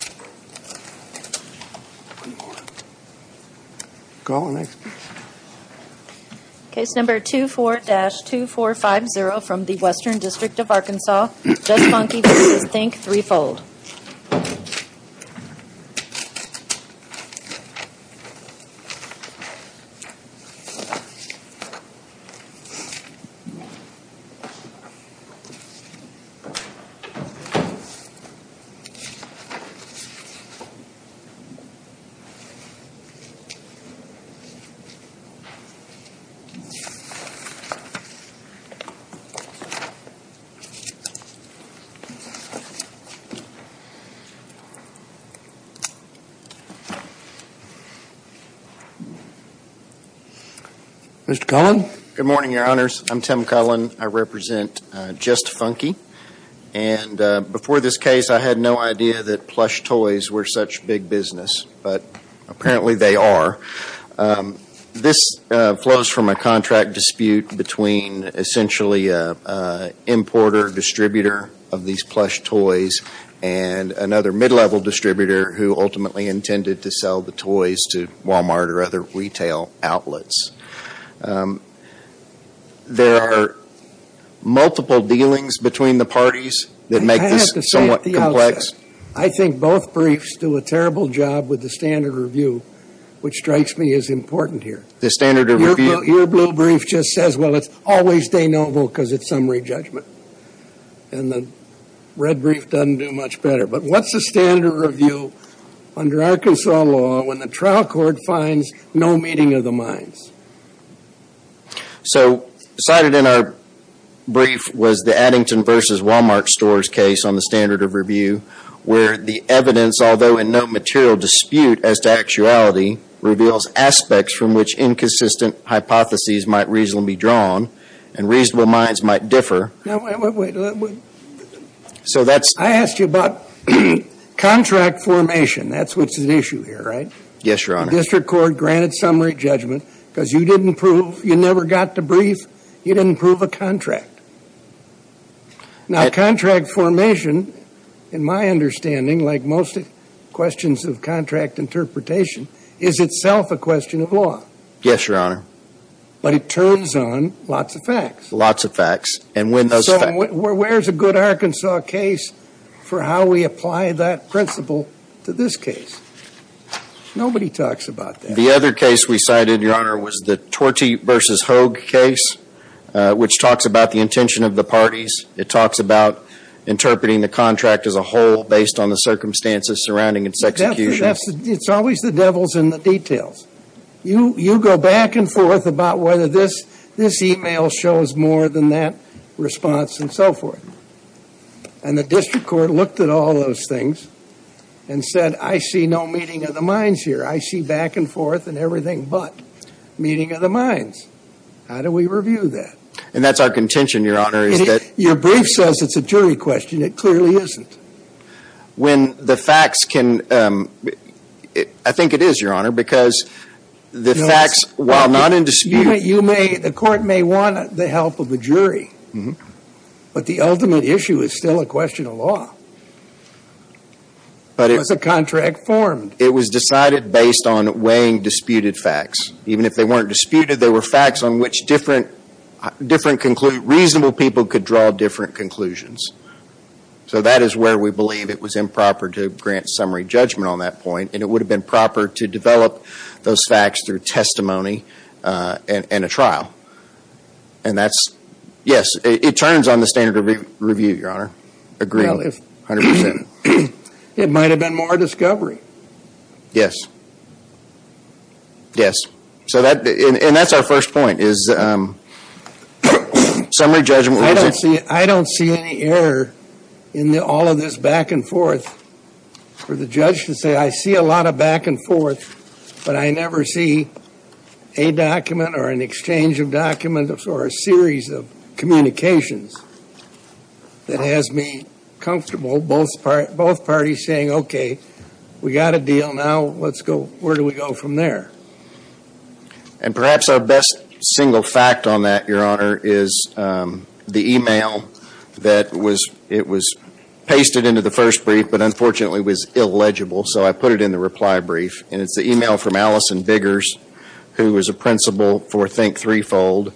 Case number 24-2450 from the Western District of Arkansas, Just Funky v. Think 3 Fold. Good morning, your honors. I'm Tim Cullen. I represent Just Funky. And before this case, I had no idea that plush toys were such big business, but apparently they are. This flows from a contract dispute between essentially an importer distributor of these plush toys and another mid-level distributor who ultimately intended to sell the toys to Walmart or other retail outlets. There are multiple dealings between the parties that make this somewhat complex. I think both briefs do a terrible job with the standard review, which strikes me as important here. Your blue brief just says, well, it's always de novo because it's summary judgment. And the red brief doesn't do much better. But what's the standard review under Arkansas law when the trial court finds no meeting of the minds? So cited in our brief was the Addington v. Walmart stores case on the standard of review, where the evidence, although in no material dispute as to actuality, reveals aspects from which inconsistent hypotheses might reasonably be drawn and reasonable minds might differ. So that's. I asked you about contract formation. That's what's at issue here, right? Yes, Your Honor. The district court granted summary judgment because you didn't prove, you never got to brief, you didn't prove a contract. Now, contract formation, in my understanding, like most questions of contract interpretation, is itself a question of law. Yes, Your Honor. But it turns on lots of facts. Lots of facts. And when those facts. for how we apply that principle to this case. Nobody talks about that. The other case we cited, Your Honor, was the Tortee v. Hogue case, which talks about the intention of the parties. It talks about interpreting the contract as a whole based on the circumstances surrounding its execution. It's always the devils in the details. You go back and forth about whether this email shows more than that response and so forth. And the district court looked at all those things and said, I see no meeting of the minds here. I see back and forth and everything but meeting of the minds. How do we review that? And that's our contention, Your Honor, is that. Your brief says it's a jury question. It clearly isn't. When the court may want the help of the jury, but the ultimate issue is still a question of law. But it was a contract formed. It was decided based on weighing disputed facts. Even if they weren't disputed, they were facts on which different, different, reasonable people could draw different conclusions. So that is where we believe it was improper to grant summary judgment on that point. And it would have been proper to develop those facts through testimony and a trial. And that's, yes, it turns on the standard of review, Your Honor. Agreed. 100%. It might have been more discovery. Yes. Yes. So that, and that's our first point is summary judgment. I don't see any error in all of this back and forth for the judge to say, I see a lot of back and forth, but I never see a document or an exchange of documents or a series of communications that has me comfortable, both parties saying, okay, we got a deal now. Let's go, where do we go from there? And perhaps our best single fact on that, Your Honor, is the email that was, it was pasted into the first brief, but unfortunately was illegible, so I put it in the reply brief. And it's the email from Allison Biggers, who is a principal for Think Threefold,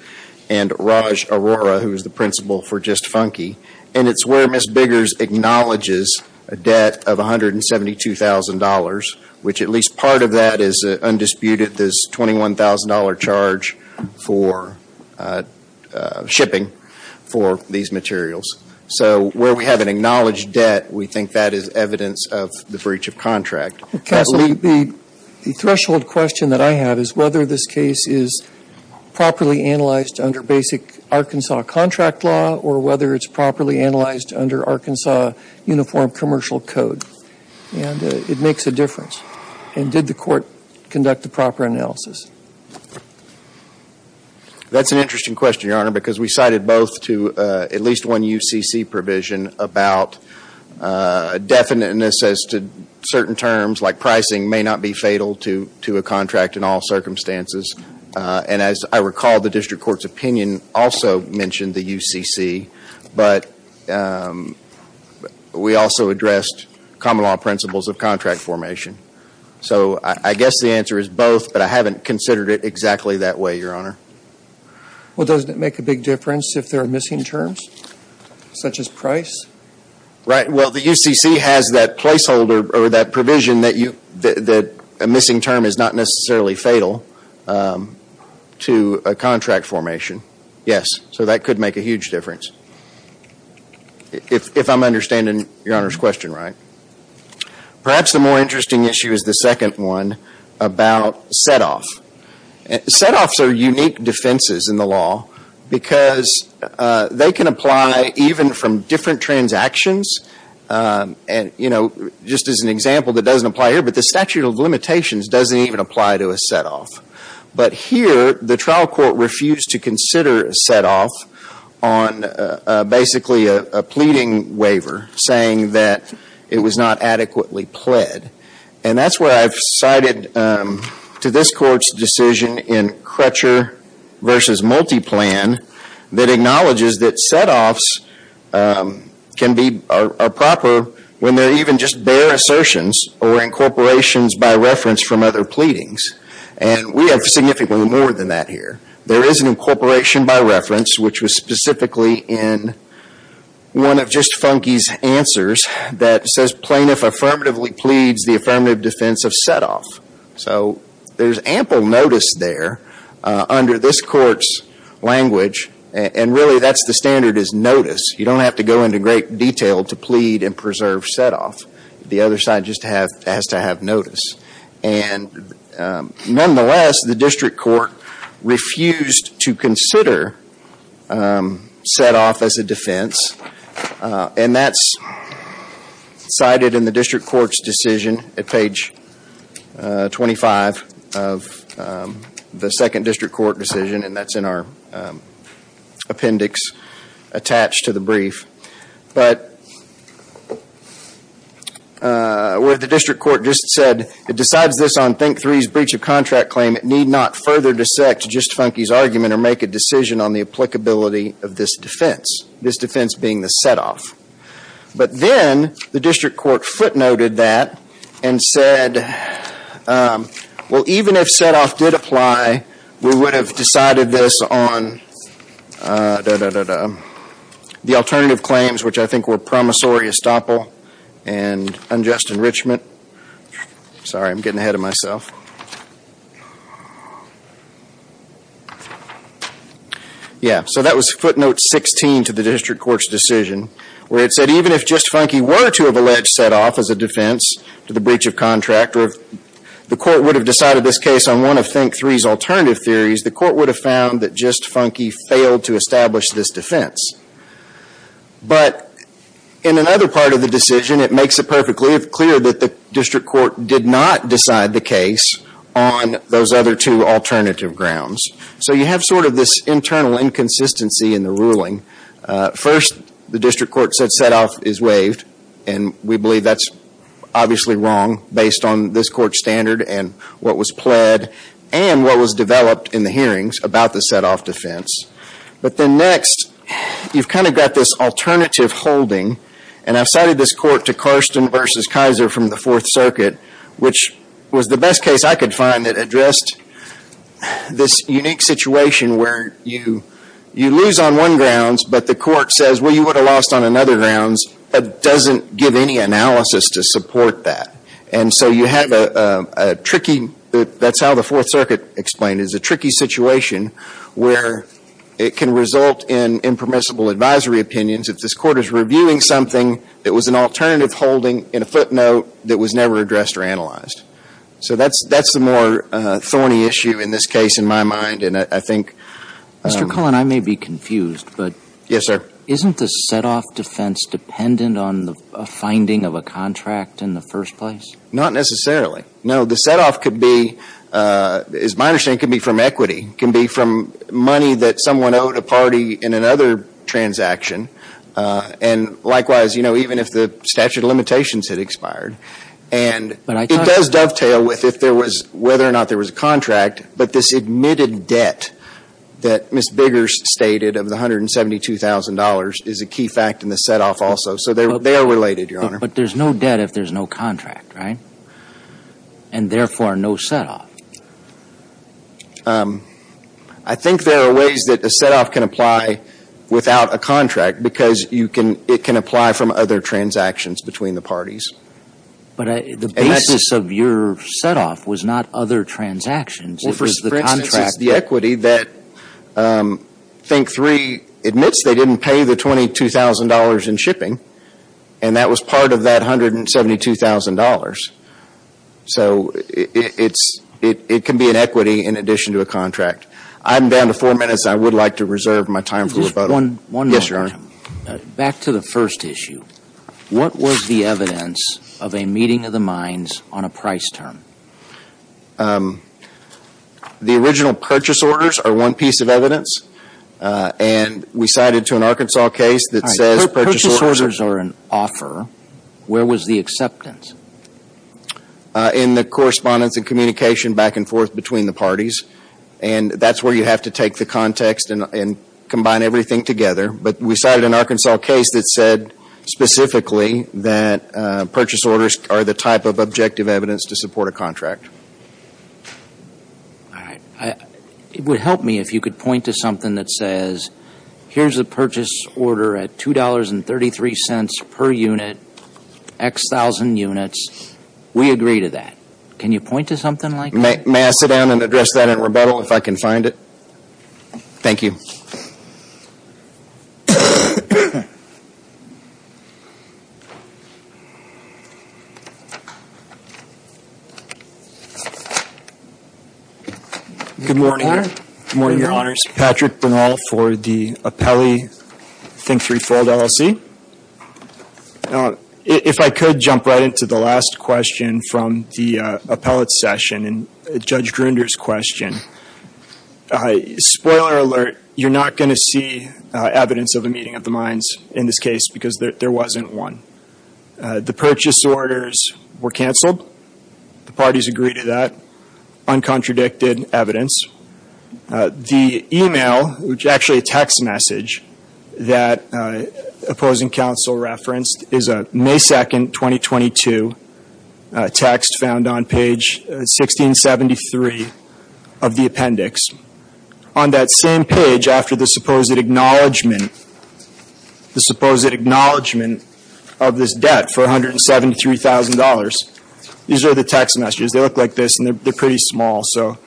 and Raj Arora, who is the principal for Just Funky. And it's where Ms. Biggers acknowledges a debt of $172,000, which at least part of that is undisputed, this $21,000 charge for shipping for these materials. So where we have an acknowledged debt, we think that is evidence of the breach of contract. Well, counsel, the threshold question that I have is whether this case is properly analyzed under basic Arkansas contract law or whether it's properly analyzed under Arkansas uniform commercial code. And it makes a difference. And did the court conduct a proper analysis? That's an interesting question, Your Honor, because we cited both to at least one UCC provision about definiteness as to certain terms, like pricing may not be fatal to a contract in all circumstances. And as I recall, the district court's opinion also mentioned the UCC, but we also addressed common law principles of contract formation. So I guess the answer is both, but I haven't considered it exactly that way, Your Honor. Well, doesn't it make a big difference if there are missing terms, such as price? Right. Well, the UCC has that placeholder or that provision that a missing term is not necessarily fatal to a contract formation. Yes. So that could make a huge difference, if I'm understanding Your Honor's question right. Perhaps the more interesting issue is the second one about setoff. Setoffs are unique defenses in the law because they can apply even from different transactions. And, you know, just as an example that doesn't apply here, but the statute of limitations doesn't even apply to a setoff. But here, the trial court refused to consider a setoff on basically a pleading waiver saying that it was not adequately pled. And that's where I've cited to this court's decision in Crutcher v. Multiplan that acknowledges that setoffs can be a proper when they're even just bare assertions or incorporations by reference from other pleadings. And we have significantly more than that here. There is an incorporation by reference, which was specifically in one of just Funke's answers that says plaintiff affirmatively pleads the affirmative defense of setoff. So there's ample notice there under this court's language. And really that's the standard is notice. You don't have to go into great detail to plead and preserve setoff. The other side just has to have notice. And nonetheless, the district court refused to consider setoff as a defense. And that's cited in the district court's decision at page 25 of the second district court decision. And that's in our appendix attached to the brief. But what the district court just said, it decides this on think three's breach of contract claim. It need not further dissect just Funke's argument or make a decision on the applicability of this defense. This defense being the setoff. But then the district court footnoted that and said, well, even if setoff did apply, we would have decided this on the alternative claims, which I think were promissory estoppel and unjust enrichment. Sorry, I'm getting ahead of myself. Yeah, so that was footnote 16 to the district court's decision, where it said even if just Funke were to have alleged setoff as a defense to the breach of contract, the court would have decided this case on one of think three's alternative theories. The court would have found that just Funke failed to establish this defense. But in another part of the decision, it makes it perfectly clear that the district court did not decide the case on those other two alternative grounds. So you have sort of this internal inconsistency in the ruling. First, the district court said setoff is waived. And we believe that's obviously wrong based on this court's standard and what was pled and what was developed in the hearings about the setoff defense. But then next, you've kind of got this alternative holding. And I've cited this court to Karsten v. Kaiser from the Fourth Circuit, which was the best case I could find that addressed this unique situation where you lose on one grounds, but the court says, well, you would have lost on another grounds, but doesn't give any analysis to support that. And so you have a tricky situation, that's how the Fourth Circuit explained it, is a tricky situation where it can result in impermissible advisory opinions if this court is reviewing something that was an alternative holding in a footnote that was never addressed or analyzed. So that's the more thorny issue in this case in my mind. And I think – Mr. Cullen, I may be confused, but – Yes, sir. Isn't the setoff defense dependent on the finding of a contract in the first place? Not necessarily. No, the setoff could be – is my understanding, could be from equity, could be from money that someone owed a party in another transaction. And likewise, you know, even if the statute of limitations had expired. And it does dovetail with if there was – whether or not there was a contract, but this admitted debt that Ms. Biggers stated of the $172,000 is a key fact in the setoff also. So they are related, But there's no debt if there's no contract, right? And therefore, no setoff. I think there are ways that a setoff can apply without a contract because you can – it can apply from other transactions between the parties. But the basis of your setoff was not other transactions. It was the contract. Well, for instance, it's the equity that think three admits they didn't pay the $22,000 in shipping and that was part of that $172,000. So it's – it can be an equity in addition to a contract. I'm down to four minutes. I would like to reserve my time for rebuttal. Just one – one more. Back to the first issue. What was the evidence of a meeting of the minds on a price term? The original purchase orders are one piece of evidence. And we cited to an Arkansas case that says – If purchase orders are an offer, where was the acceptance? In the correspondence and communication back and forth between the parties. And that's where you have to take the context and combine everything together. But we cited an Arkansas case that said specifically that purchase orders are the type of objective evidence to support a contract. All right. It would help me if you could point to something that says, here's the purchase order at $2.33 per unit, X thousand units. We agree to that. Can you point to something like that? May I sit down and address that in rebuttal if I can find it? Thank you. Good morning. Good morning, Your Honors. This is Patrick Bernal for the Appellee Think Threefold LLC. If I could jump right into the last question from the appellate session and Judge Grunder's question. Spoiler alert. You're not going to see evidence of a meeting of the minds in this case because there wasn't one. The purchase orders were canceled. The parties agreed to that. Uncontradicted evidence. The email, which is actually a text message that opposing counsel referenced, is a May 2nd, 2022, text found on page 1673 of the appendix. On that same page, after the supposed acknowledgment, the supposed acknowledgment of this debt for $173,000, these are the text messages. They look like this and they're pretty small. So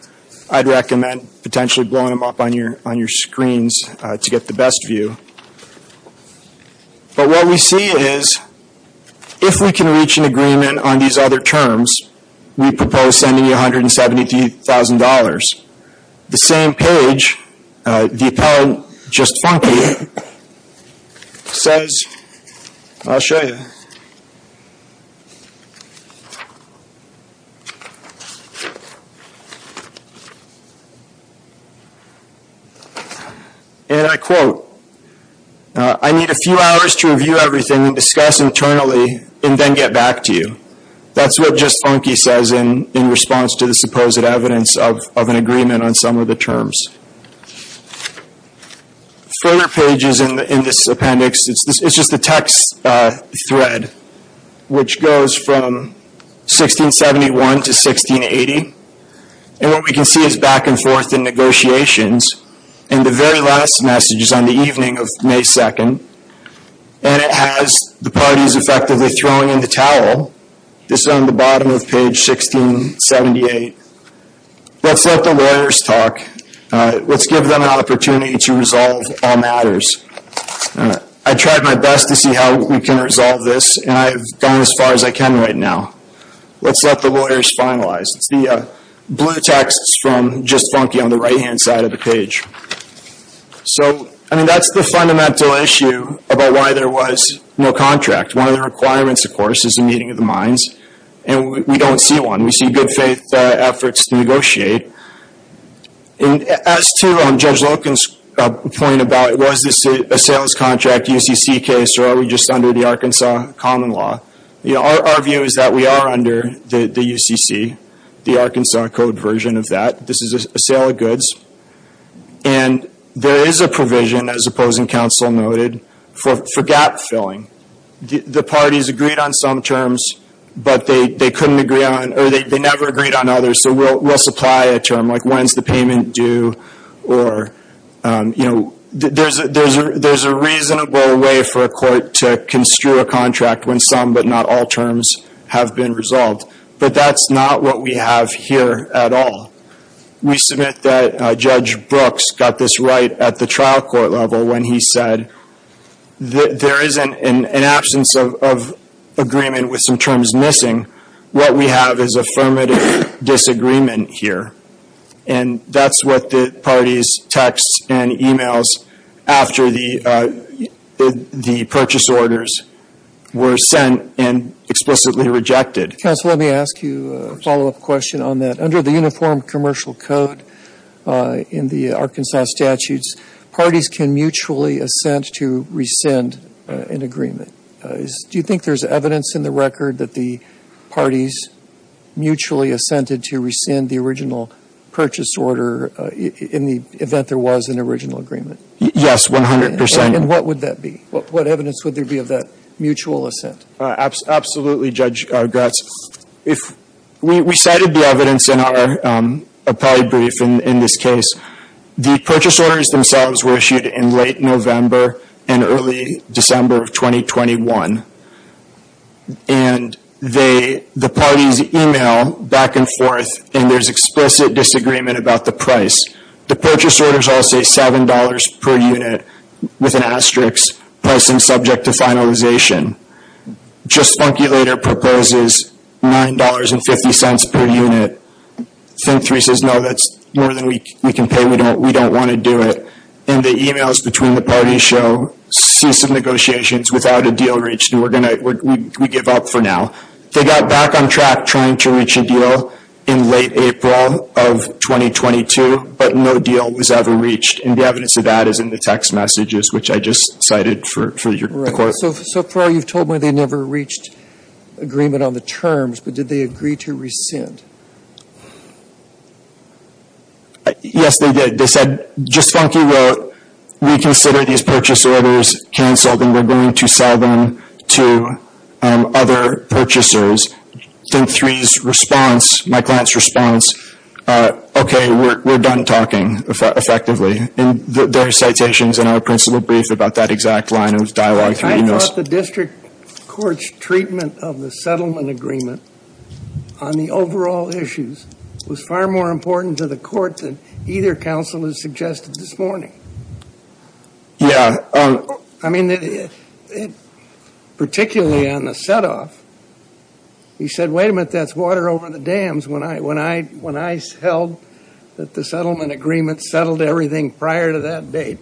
I'd recommend potentially blowing them up on your screens to get the best view. But what we see is, if we can reach an agreement on these other terms, we propose sending you $173,000. The same page, the appellate, Just Funky, says, I'll show you, and I quote, I need a few hours to review everything and discuss internally and then get back to you. That's what Just Funky says in response to the supposed evidence of an agreement on some of the terms. Further pages in this appendix, it's just a text thread, which goes from 1671 to 1680. And what we can see is back and forth in negotiations. And the very last message is on the evening of May 2nd. And it has the parties effectively throwing in the towel. This is on the bottom of page 1678. Let's let the lawyers talk. Let's give them an opportunity to resolve all matters. I tried my best to see how we can resolve this and I've gone as far as I can right now. Let's let the lawyers finalize. It's the blue text from Just Funky on the right-hand side of the page. So, I mean, that's the fundamental issue about why there was no contract. One of the requirements, of course, is a meeting of the minds. And we don't see one. We see good faith efforts to negotiate. And as to Judge Loken's point about was this a sales contract UCC case or are we just under the Arkansas common law? Our view is that we are under the UCC, the Arkansas Code version of that. This is a sale of goods. And there is a provision, as opposing counsel noted, for gap filling. The parties agreed on some terms but they couldn't agree on or they never agreed on others. So, we'll supply a term like when's the payment due or, you know, there's a reasonable way for a court to construe a contract when some but not all terms have been resolved. But that's not what we have here at all. We submit that Judge Brooks got this right at the trial court level when he said there is an absence of agreement with some terms missing. What we have is affirmative disagreement here. And that's what the parties text and emails after the purchase orders were sent and explicitly rejected. Counsel, let me ask you a follow-up question on that. Under the Uniform Commercial Code in the Arkansas statutes, parties can mutually assent to rescind an agreement. Do you think there's evidence in the record that the parties mutually assented to rescind the original purchase order in the event there was an original agreement? Yes, 100%. And what would that be? What evidence would there be of that mutual assent? Absolutely, Judge Gratz. We cited the evidence in our appellate brief in this case. The purchase orders themselves were issued in late November and early December of 2021. And the parties email back and forth and there's explicit disagreement about the price. The purchase orders all say $7 per unit with an asterisk pricing subject to finalization. JustFunkyLater proposes $9.50 per unit. Think3 says, no, that's more than we can pay. We don't want to do it. And the emails between the parties show cease of negotiations without a deal reached. We give up for now. They got back on track trying to reach a deal in late April of 2022, but no deal was ever reached. And the evidence of that is in the text messages, which I just cited for your court. So far, you've told me they never reached agreement on the terms, but did they agree to rescind? Yes, they did. They said, JustFunky wrote, we consider these purchase orders canceled and we're going to sell them to other purchasers. Think3's response, my client's response, okay, we're done talking effectively. And there are citations in our principal brief about that exact line. It was dialogued through emails. I thought the district court's treatment of the settlement agreement on the overall issues was far more important to the court than either counsel has suggested this morning. Yeah. I mean, particularly on the setoff, he said, wait a minute, that's water over the dams. When I held that the settlement agreement settled everything prior to that date.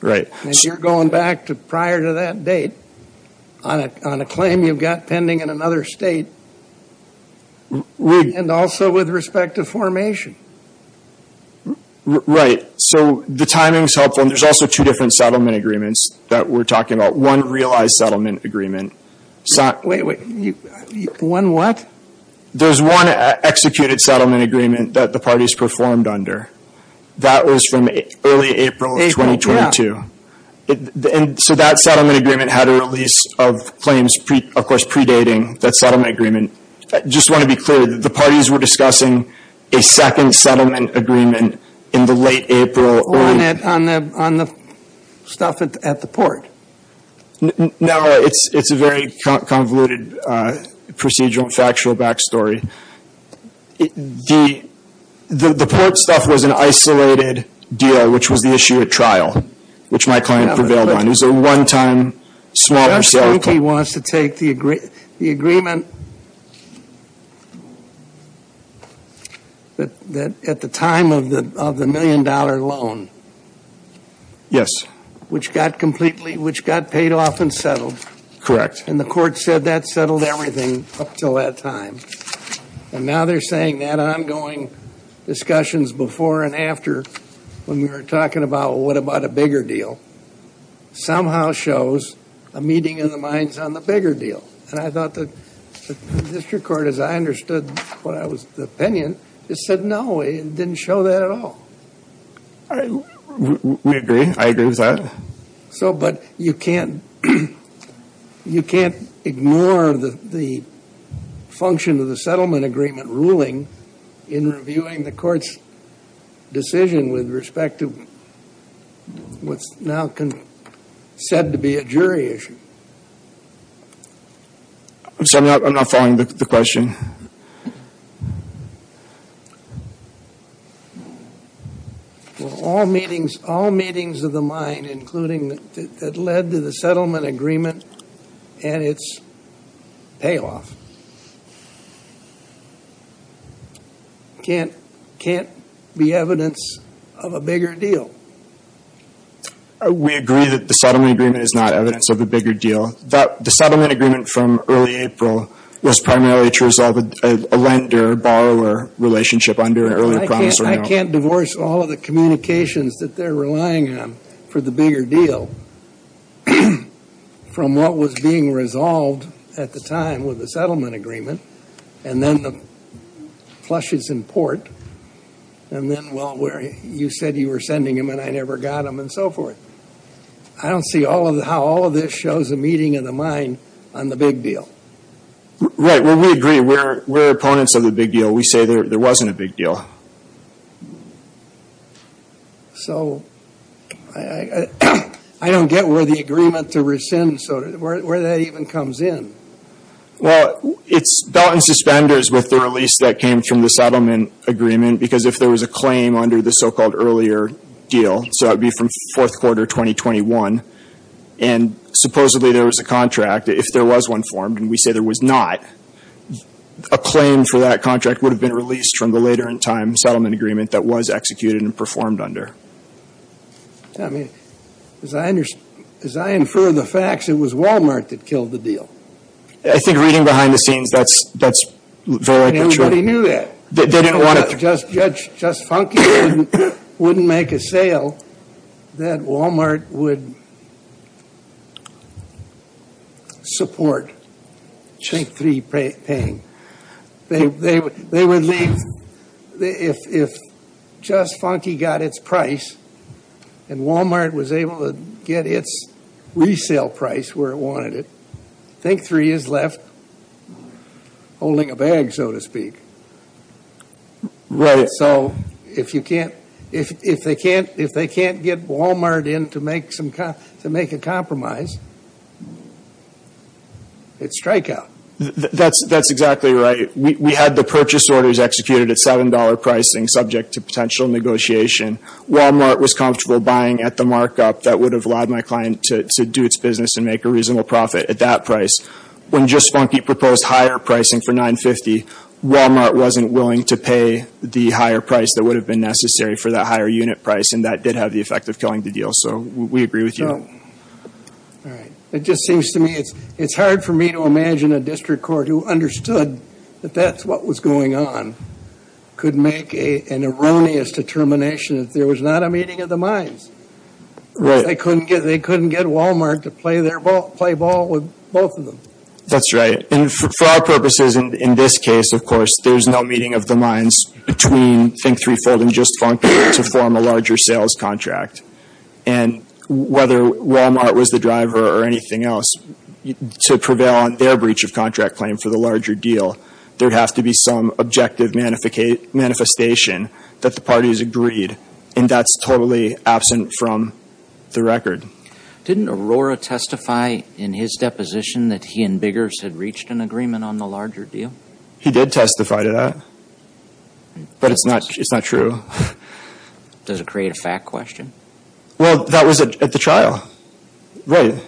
Right. And you're going back to prior to that date on a claim you've got pending in another state. And also with respect to formation. Right. So the timing's helpful. And there's also two different settlement agreements that we're talking about. One realized settlement agreement. One what? There's one executed settlement agreement that the parties performed under. That was from early April of 2022. And so that settlement agreement had a release of claims, of course, predating that settlement agreement. I just want to be clear that the parties were discussing a second settlement agreement in the late April. On the stuff at the port. No, it's a very convoluted procedural and factual back story. The port stuff was an isolated deal, which was the issue at trial, which my client prevailed on. It was a one-time, smaller settlement claim. He wants to take the agreement at the time of the million-dollar loan. Yes. Which got paid off and settled. Correct. And the court said that settled everything up until that time. And now they're saying that ongoing discussions before and after when we were talking about what about a bigger deal somehow shows a meeting of the minds on the bigger deal. And I thought the district court, as I understood the opinion, just said no. It didn't show that at all. We agree. I agree with that. But you can't ignore the function of the settlement agreement ruling in reviewing the court's decision with respect to what's now said to be a jury issue. I'm sorry, I'm not following the question. All meetings of the mind, including that led to the settlement agreement and its payoff. Can't be evidence of a bigger deal. We agree that the settlement agreement is not evidence of a bigger deal. The settlement agreement from early April was primarily to resolve a lender-borrower relationship under an earlier promissory note. I can't divorce all of the communications that they're relying on for the bigger deal from what was being resolved at the time with the settlement agreement and then the flushes in port and then, well, where you said you were sending them and I never got them and so forth. I don't see how all of this shows a meeting of the mind on the big deal. Right. Well, we agree. We're opponents of the big deal. We say there wasn't a big deal. So, I don't get where the agreement to rescind, where that even comes in. Well, it's belt and suspenders with the release that came from the settlement agreement because if there was a claim under the so-called earlier deal, so that would be from fourth quarter 2021, and supposedly there was a contract, if there was one formed and we say there was not, a claim for that contract would have been released from the later in time settlement agreement that was executed and performed under. I mean, as I infer the facts, it was Walmart that killed the deal. I think reading behind the scenes, that's very likely true. And everybody knew that. They didn't want to... Just Funky wouldn't make a sale that Walmart would support Think Three paying. They would leave... If Just Funky got its price and Walmart was able to get its resale price where it wanted it, Think Three is left holding a bag, so to speak. Right. So if they can't get Walmart in to make a compromise, it's strikeout. That's exactly right. We had the purchase orders executed at $7 pricing subject to potential negotiation. Walmart was comfortable buying at the markup that would have allowed my client to do its business and make a reasonable profit at that price. When Just Funky proposed higher pricing for $9.50, Walmart wasn't willing to pay the higher price that would have been necessary for that higher unit price. And that did have the effect of killing the deal. So we agree with you. It just seems to me... It's hard for me to imagine a district court who understood that that's what was going on could make an erroneous determination if there was not a meeting of the minds. Right. They couldn't get Walmart to play ball with both of them. That's right. And for our purposes in this case, of course, there's no meeting of the minds between Think Three, Fold, and Just Funky to form a larger sales contract. And whether Walmart was the driver or anything else, to prevail on their breach of contract claim for the larger deal, there has to be some objective manifestation that the parties agreed. And that's totally absent from the record. Didn't Aurora testify in his deposition that he and Biggers had reached an agreement on the larger deal? He did testify to that. But it's not true. Does it create a fact question? Well, that was at the trial. Right.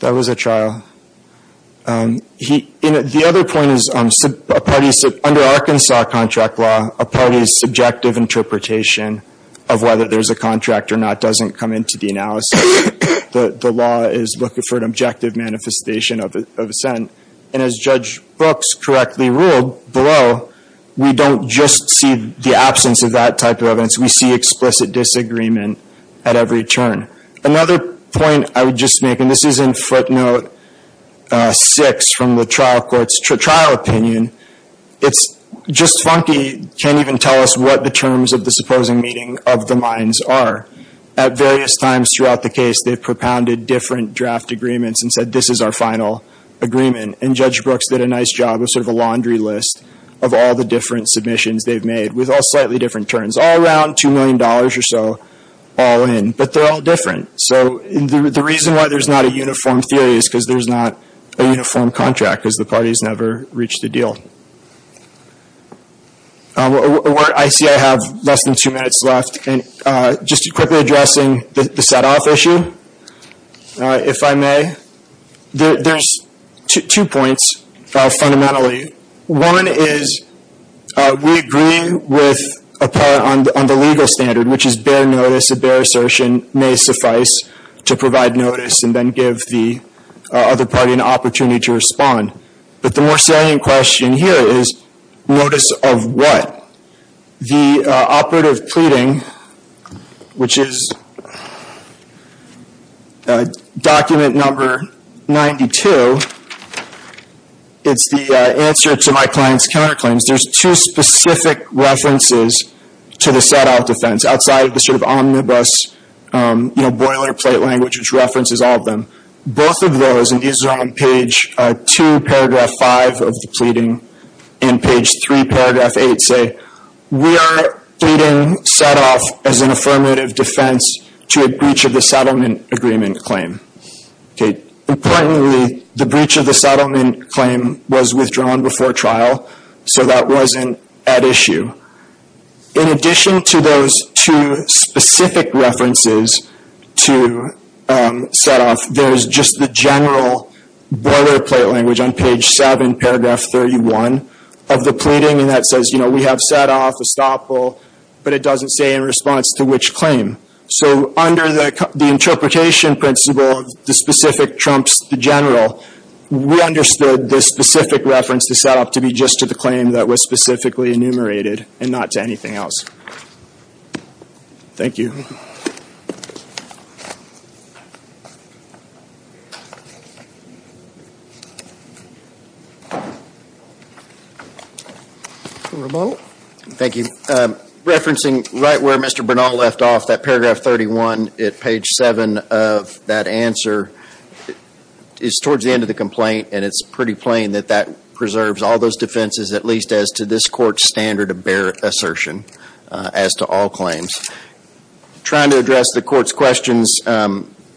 That was at trial. The other point is under Arkansas contract law, a party's subjective interpretation of whether there's a contract or not doesn't come into the analysis. The law is looking for an objective manifestation of a sentence. And as Judge Brooks correctly ruled below, we don't just see the absence of that type of evidence. We see explicit disagreement at every turn. Another point I would just make, and this is in footnote six from the trial court's trial opinion, it's Just Funky can't even tell us what the terms of the supposing meeting of the mines are. At various times throughout the case, they've propounded different draft agreements and said, this is our final agreement. And Judge Brooks did a nice job of sort of a laundry list of all the different submissions they've made with all slightly different terms. All around $2 million or so all in. But they're all different. So the reason why there's not a uniform theory is because there's not a uniform contract because the parties never reach the deal. I see I have less than two minutes left. Just quickly addressing the set-off issue, if I may. There's two points fundamentally. One is we agree with a part on the legal standard, which is bare notice, a bare assertion, may suffice to provide notice and then give the other party an opportunity to respond. But the more salient question here is, notice of what? The operative pleading, which is document number 92, it's the answer to my client's counterclaims. There's two specific references to the set-off defense outside of the sort of omnibus boilerplate language, which references all of them. Both of those, and these are on page 2, paragraph 5 of the pleading, and page 3, paragraph 8 say, we are pleading set-off as an affirmative defense to a breach of the settlement agreement claim. Importantly, the breach of the settlement claim was withdrawn before trial so that wasn't at issue. In addition to those two specific references to set-off, there's just the general boilerplate language on page 7, paragraph 31 of the pleading, and that says we have set-off, estoppel, but it doesn't say in response to which claim. So under the interpretation principle, the specific trumps the general, we understood the specific reference to set-off to be just to the claim that was specifically enumerated and not to anything else. Thank you. Thank you. Referencing right where Mr. Bernal left off, that paragraph 31 at page 7 of that answer is towards the end of the complaint, and it's pretty plain that that preserves all those defenses at least as to this court's standard of bare assertion as to all claims. Trying to address the court's questions,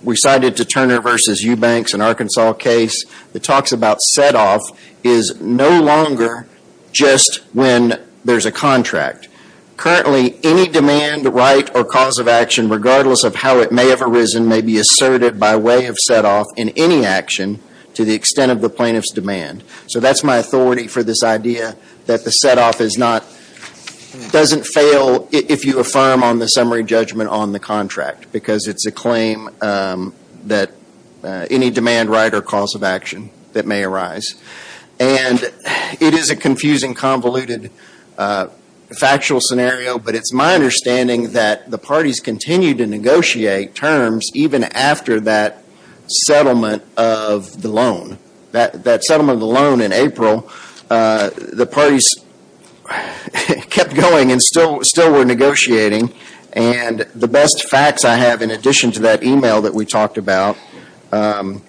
we cited the Turner v. Eubanks in Arkansas case that talks about set-off is no longer just when there's a contract. Currently, any demand, right, or cause of action, regardless of how it may have arisen, may be asserted by way of set-off in any action to the extent of the plaintiff's demand. So that's my authority for this idea that the set-off is not, doesn't fail if you affirm on the summary judgment on the contract, because it's a claim that any demand, right, or cause of action that may arise. And it is a confusing, convoluted, factual scenario, but it's my understanding that the parties continue to negotiate terms even after that settlement of the loan. That settlement of the loan in April, the parties kept going and still were negotiating. And the best facts I have in addition to that email that we talked about, you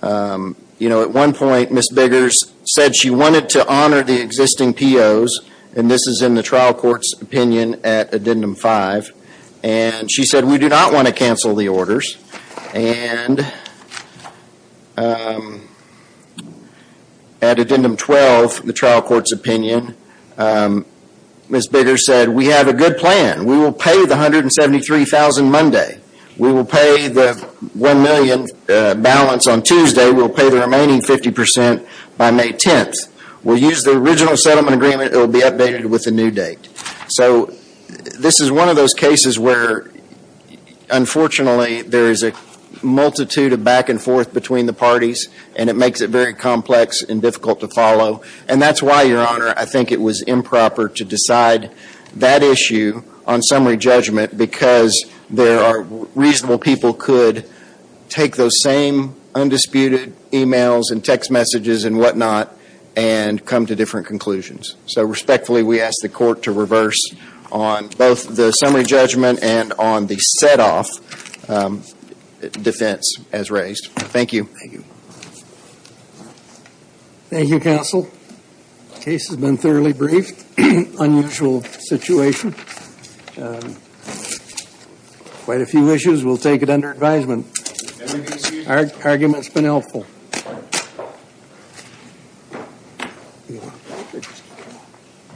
know, at one point Ms. Biggers said she wanted to honor the existing POs, and this is in the trial court's opinion at Addendum 5, and she said, we do not want to cancel the orders. at Addendum 12, the trial court's opinion, Ms. Biggers said, we have a good plan. We will pay the $173,000 Monday. We will pay the $1 million balance on Tuesday. We'll pay the remaining 50% by May 10th. We'll use the original settlement agreement. It will be updated with a new date. So this is one of those cases where unfortunately there is a multitude of back and forth between the parties, and it makes it very complex and difficult to follow. And that's why, Your Honor, I think it was improper to decide that issue on summary judgment because there are reasonable people could take those same undisputed emails and text messages and whatnot and come to different conclusions. So respectfully, we ask the court to reverse on both the summary judgment and on the set-off defense as raised. Thank you. Thank you, Counsel. The case has been thoroughly briefed. Unusual situation. Quite a few issues. We'll take it under advisement. The argument has been helpful. Thank you, Your Honor.